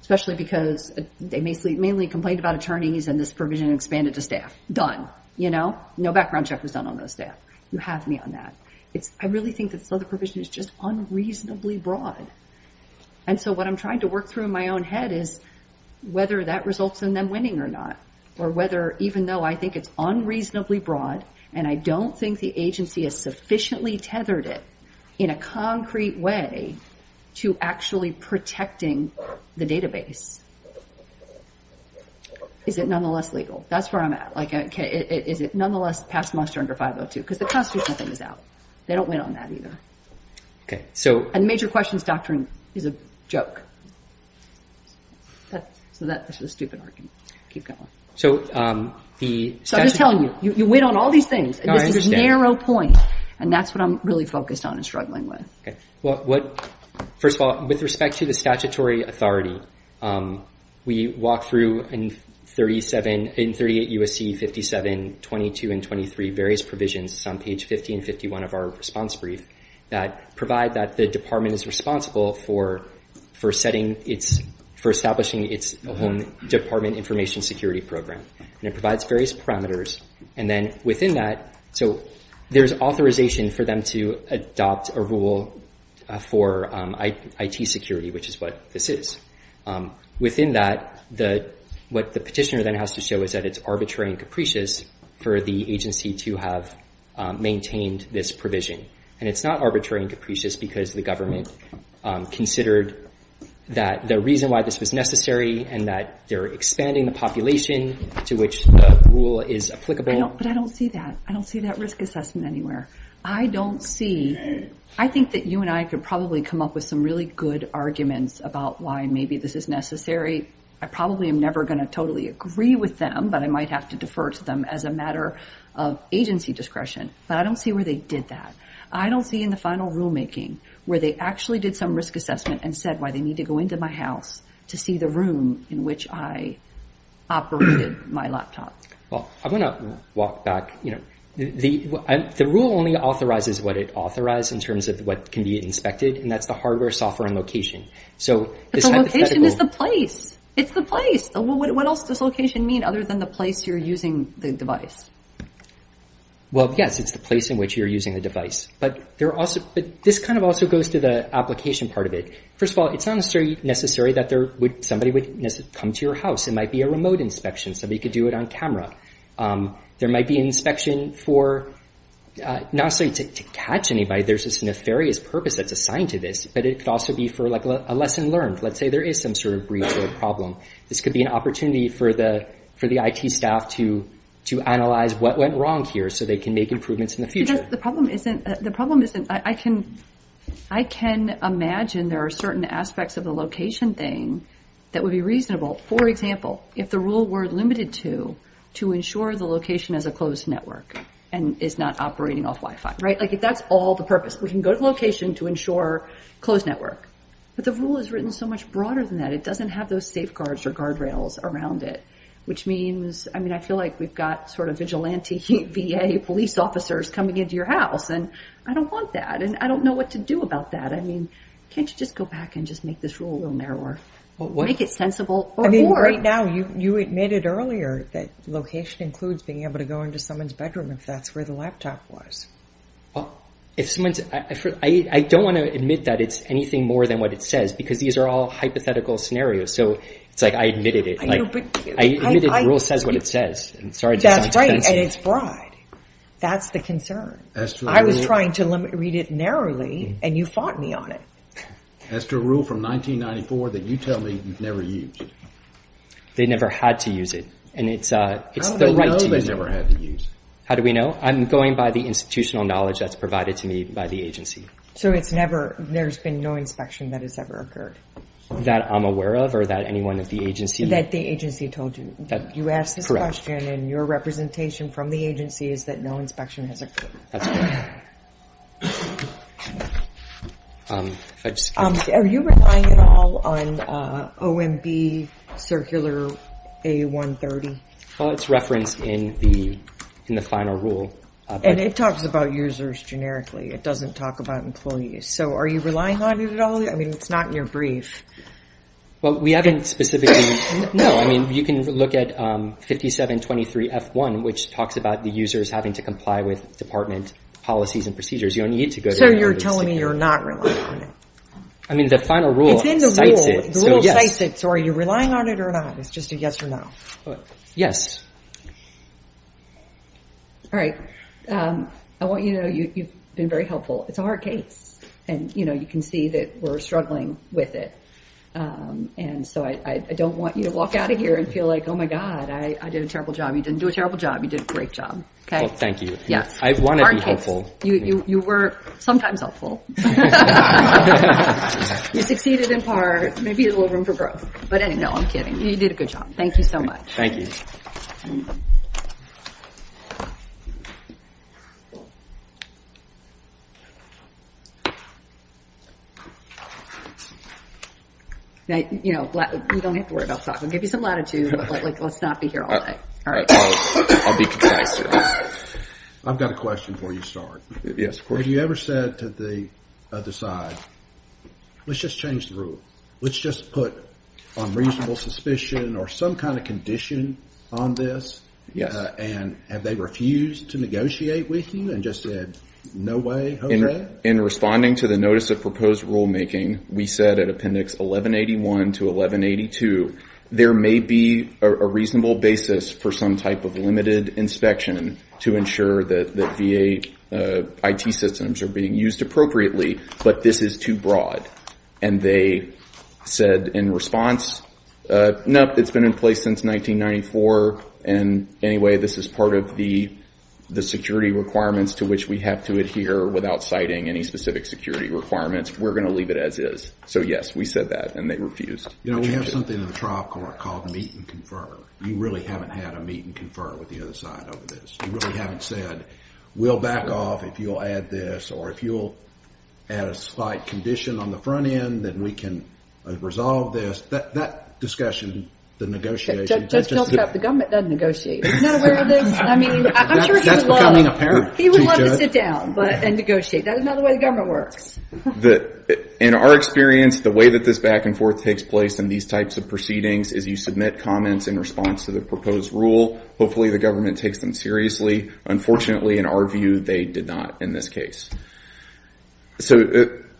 Especially because they mainly complained about attorneys and this provision expanded to staff. Done, you know? No background check was done on those staff. You have me on that. It's, I really think that this other provision is just unreasonably broad. And so what I'm trying to work through in my own head is whether that results in them winning or not, or whether even though I think it's unreasonably broad and I don't think the agency has sufficiently tethered it in a concrete way to actually protecting the database, is it nonetheless legal? That's where I'm at. Like, is it nonetheless past muster under 502? Because the constitutional thing is out. They don't win on that either. Okay, so- And major questions doctrine is a joke. So that, this is a stupid argument. Keep going. So the- So I'm just telling you, you win on all these things. No, I understand. And this is a narrow point. And that's what I'm really focused on and struggling with. Well, what, first of all, with respect to the statutory authority, we walk through in 38 U.S.C. 57, 22, and 23, various provisions on page 50 and 51 of our response brief that provide that the department is responsible for setting its, for establishing its own department information security program. And it provides various parameters. And then within that, so there's authorization for them to adopt a rule for IT security, which is what this is. Within that, what the petitioner then has to show is that it's arbitrary and capricious for the agency to have maintained this provision. And it's not arbitrary and capricious because the government considered that the reason why this was necessary and that they're expanding the population to which the rule is applicable. But I don't see that. I don't see that risk assessment anywhere. I don't see. I think that you and I could probably come up with some really good arguments about why maybe this is necessary. I probably am never going to totally agree with them, but I might have to defer to them as a matter of agency discretion. But I don't see where they did that. I don't see in the final rulemaking where they actually did some risk assessment and said why they need to go into my house to see the room in which I operated my laptop. Well, I'm going to walk back. The rule only authorizes what it authorized in terms of what can be inspected, and that's the hardware, software, and location. So this hypothetical- But the location is the place. It's the place. What else does location mean other than the place you're using the device? Well, yes, it's the place in which you're using the device. But this kind of also goes to the application part of it. First of all, it's not necessarily that somebody would come to your house. It might be a remote inspection. Somebody could do it on camera. There might be an inspection for- not necessarily to catch anybody. There's this nefarious purpose that's assigned to this, but it could also be for a lesson learned. Let's say there is some sort of breach or problem. This could be an opportunity for the IT staff to analyze what went wrong here so they can make improvements in the future. The problem isn't- I can imagine there are certain aspects of the location thing that would be reasonable. For example, if the rule were limited to to ensure the location has a closed network and is not operating off Wi-Fi, right? If that's all the purpose, we can go to location to ensure closed network. But the rule is written so much broader than that. It doesn't have those safeguards or guardrails around it, which means- I mean, I feel like we've got sort of vigilante VA police officers coming into your house, and I don't want that, and I don't know what to do about that. I mean, can't you just go back and just make this rule a little narrower? Make it sensible or more? Right now, you admitted earlier that location includes being able to go into someone's bedroom if that's where the laptop was. Well, if someone's- I don't want to admit that it's anything more than what it says, because these are all hypothetical scenarios. So it's like I admitted it. I know, but- I admitted the rule says what it says, and sorry to sound expensive. That's right, and it's broad. That's the concern. I was trying to read it narrowly, and you fought me on it. As to a rule from 1994 that you tell me you've never used. They never had to use it, and it's the right to use it. How do they know they never had to use it? How do we know? I'm going by the institutional knowledge that's provided to me by the agency. So it's never- there's been no inspection that has ever occurred? That I'm aware of, or that anyone at the agency- That the agency told you. You asked this question, and your representation from the agency is that no inspection has occurred. That's correct. Are you relying at all on OMB Circular A-130? Well, it's referenced in the final rule. And it talks about users generically. It doesn't talk about employees. So are you relying on it at all? I mean, it's not in your brief. Well, we haven't specifically- No, I mean, you can look at 5723 F1, which talks about the users having to comply with department policies and procedures. You don't need to go to- So you're telling me you're not relying on it? I mean, the final rule- It's in the rule. The rule cites it. So are you relying on it or not? It's just a yes or no. Yes. All right. I want you to know you've been very helpful. It's a hard case. And you can see that we're struggling with it. And so I don't want you to walk out of here and feel like, oh my God, I did a terrible job. You didn't do a terrible job. You did a great job. Thank you. Yes. I want to be helpful. You were sometimes helpful. You succeeded in part. Maybe a little room for growth. But anyway, no, I'm kidding. You did a good job. Thank you so much. Thank you. You don't have to worry about talking. Give you some latitude, but let's not be here all night. All right. I'll be concise here. I've got a question for you, sir. Yes, of course. Have you ever said to the other side, let's just change the rule? Let's just put unreasonable suspicion or some kind of condition on this? Yes. And have they refused to negotiate with you and just said, no way, OK? In responding to the notice of proposed rulemaking, we said at appendix 1181 to 1182, there may be a reasonable basis for some type of limited inspection to ensure that the VA IT systems are being used appropriately. But this is too broad. And they said in response, no, it's been in place since 1994. And anyway, this is part of the security requirements to which we have to adhere without citing any specific security requirements. We're going to leave it as is. So yes, we said that and they refused. You know, we have something in the trial court called meet and confer. You really haven't had a meet and confer with the other side over this. You really haven't said, we'll back off if you'll add this or if you'll add a slight condition on the front end then we can resolve this. That discussion, the negotiation. Just tell them the government doesn't negotiate. He's not aware of this. I mean, I'm sure he would love it. He would love to sit down and negotiate. That's not the way the government works. In our experience, the way that this back and forth takes place in these types of proceedings is you submit comments in response to the proposed rule. Hopefully the government takes them seriously. Unfortunately, in our view, they did not in this case. So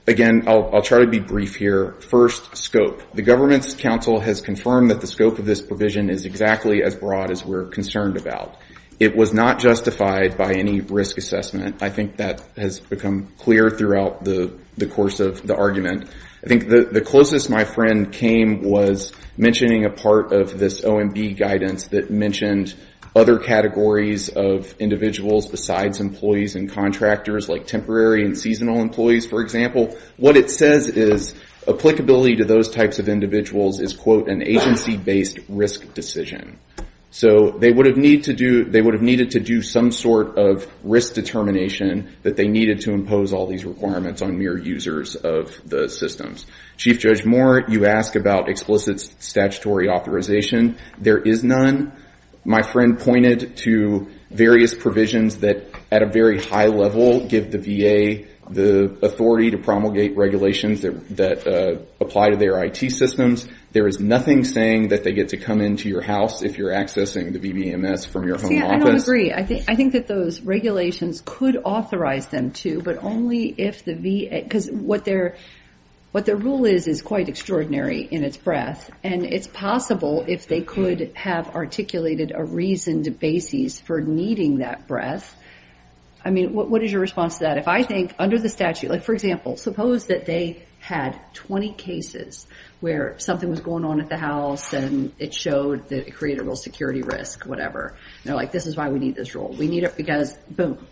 again, I'll try to be brief here. First, scope. The government's counsel has confirmed that the scope of this provision is exactly as broad as we're concerned about. It was not justified by any risk assessment. I think that has become clear throughout the course of the argument. I think the closest my friend came was mentioning a part of this OMB guidance that mentioned other categories of individuals besides employees and contractors like temporary and seasonal employees, for example. What it says is applicability to those types of individuals is, quote, an agency-based risk decision. So they would have needed to do some sort of risk determination that they needed to impose all these requirements on mere users of the systems. Chief Judge Moore, you ask about explicit statutory authorization. There is none. My friend pointed to various provisions that at a very high level give the VA the authority to promulgate regulations that apply to their IT systems. There is nothing saying that they get to come into your house if you're accessing the VBMS from your home office. See, I don't agree. I think that those regulations could authorize them to, but only if the VA, because what their rule is is quite extraordinary in its breadth, and it's possible if they could have articulated a reasoned basis for needing that breadth. I mean, what is your response to that? If I think under the statute, like, for example, suppose that they had 20 cases where something was going on at the house and it showed that it created a real security risk, whatever, and they're like, this is why we need this rule. We need it because boom.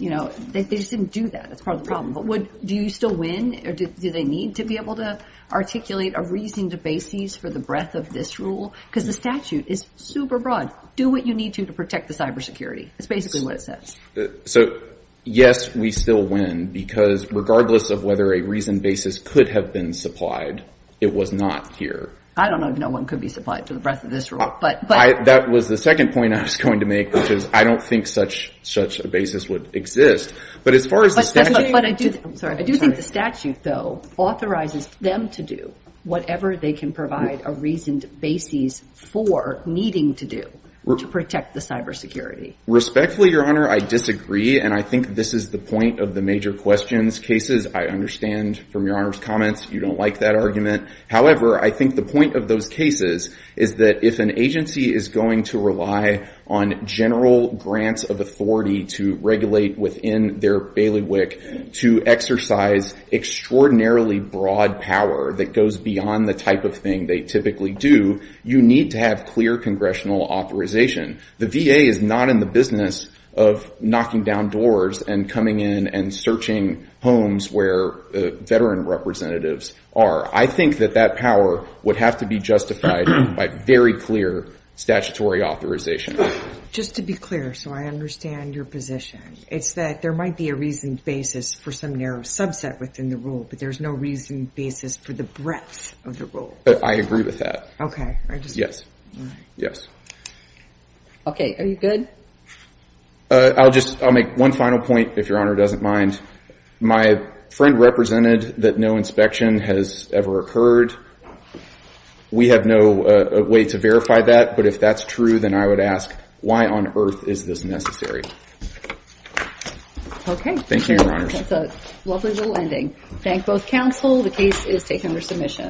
You know, they just didn't do that. That's part of the problem. But do you still win, or do they need to be able to articulate a reasoned basis for the breadth of this rule? Because the statute is super broad. Do what you need to to protect the cybersecurity. That's basically what it says. So yes, we still win because regardless of whether a reasoned basis could have been supplied, it was not here. I don't know if no one could be supplied for the breadth of this rule, but... That was the second point I was going to make, which is I don't think such a basis would exist. But as far as the statute... But I do think the statute, though, authorizes them to do whatever they can provide a reasoned basis for needing to do to protect the cybersecurity. Respectfully, Your Honor, I disagree. And I think this is the point of the major questions cases. I understand from Your Honor's comments, you don't like that argument. However, I think the point of those cases is that if an agency is going to rely on general grants of authority to regulate within their bailiwick to exercise extraordinarily broad power that goes beyond the type of thing they typically do, you need to have clear congressional authorization. The VA is not in the business of knocking down doors and coming in and searching homes where veteran representatives are. I think that that power would have to be justified by very clear statutory authorization. Just to be clear, so I understand your position, it's that there might be a reasoned basis for some narrow subset within the rule, but there's no reasoned basis for the breadth of the rule. I agree with that. Okay, I just... Yes, yes. Okay, are you good? I'll make one final point, if Your Honor doesn't mind. My friend represented that no inspection has ever occurred. We have no way to verify that, but if that's true, then I would ask, why on earth is this necessary? Okay. Thank you, Your Honor. That's a lovely little ending. Thank both counsel. The case is taken for submission.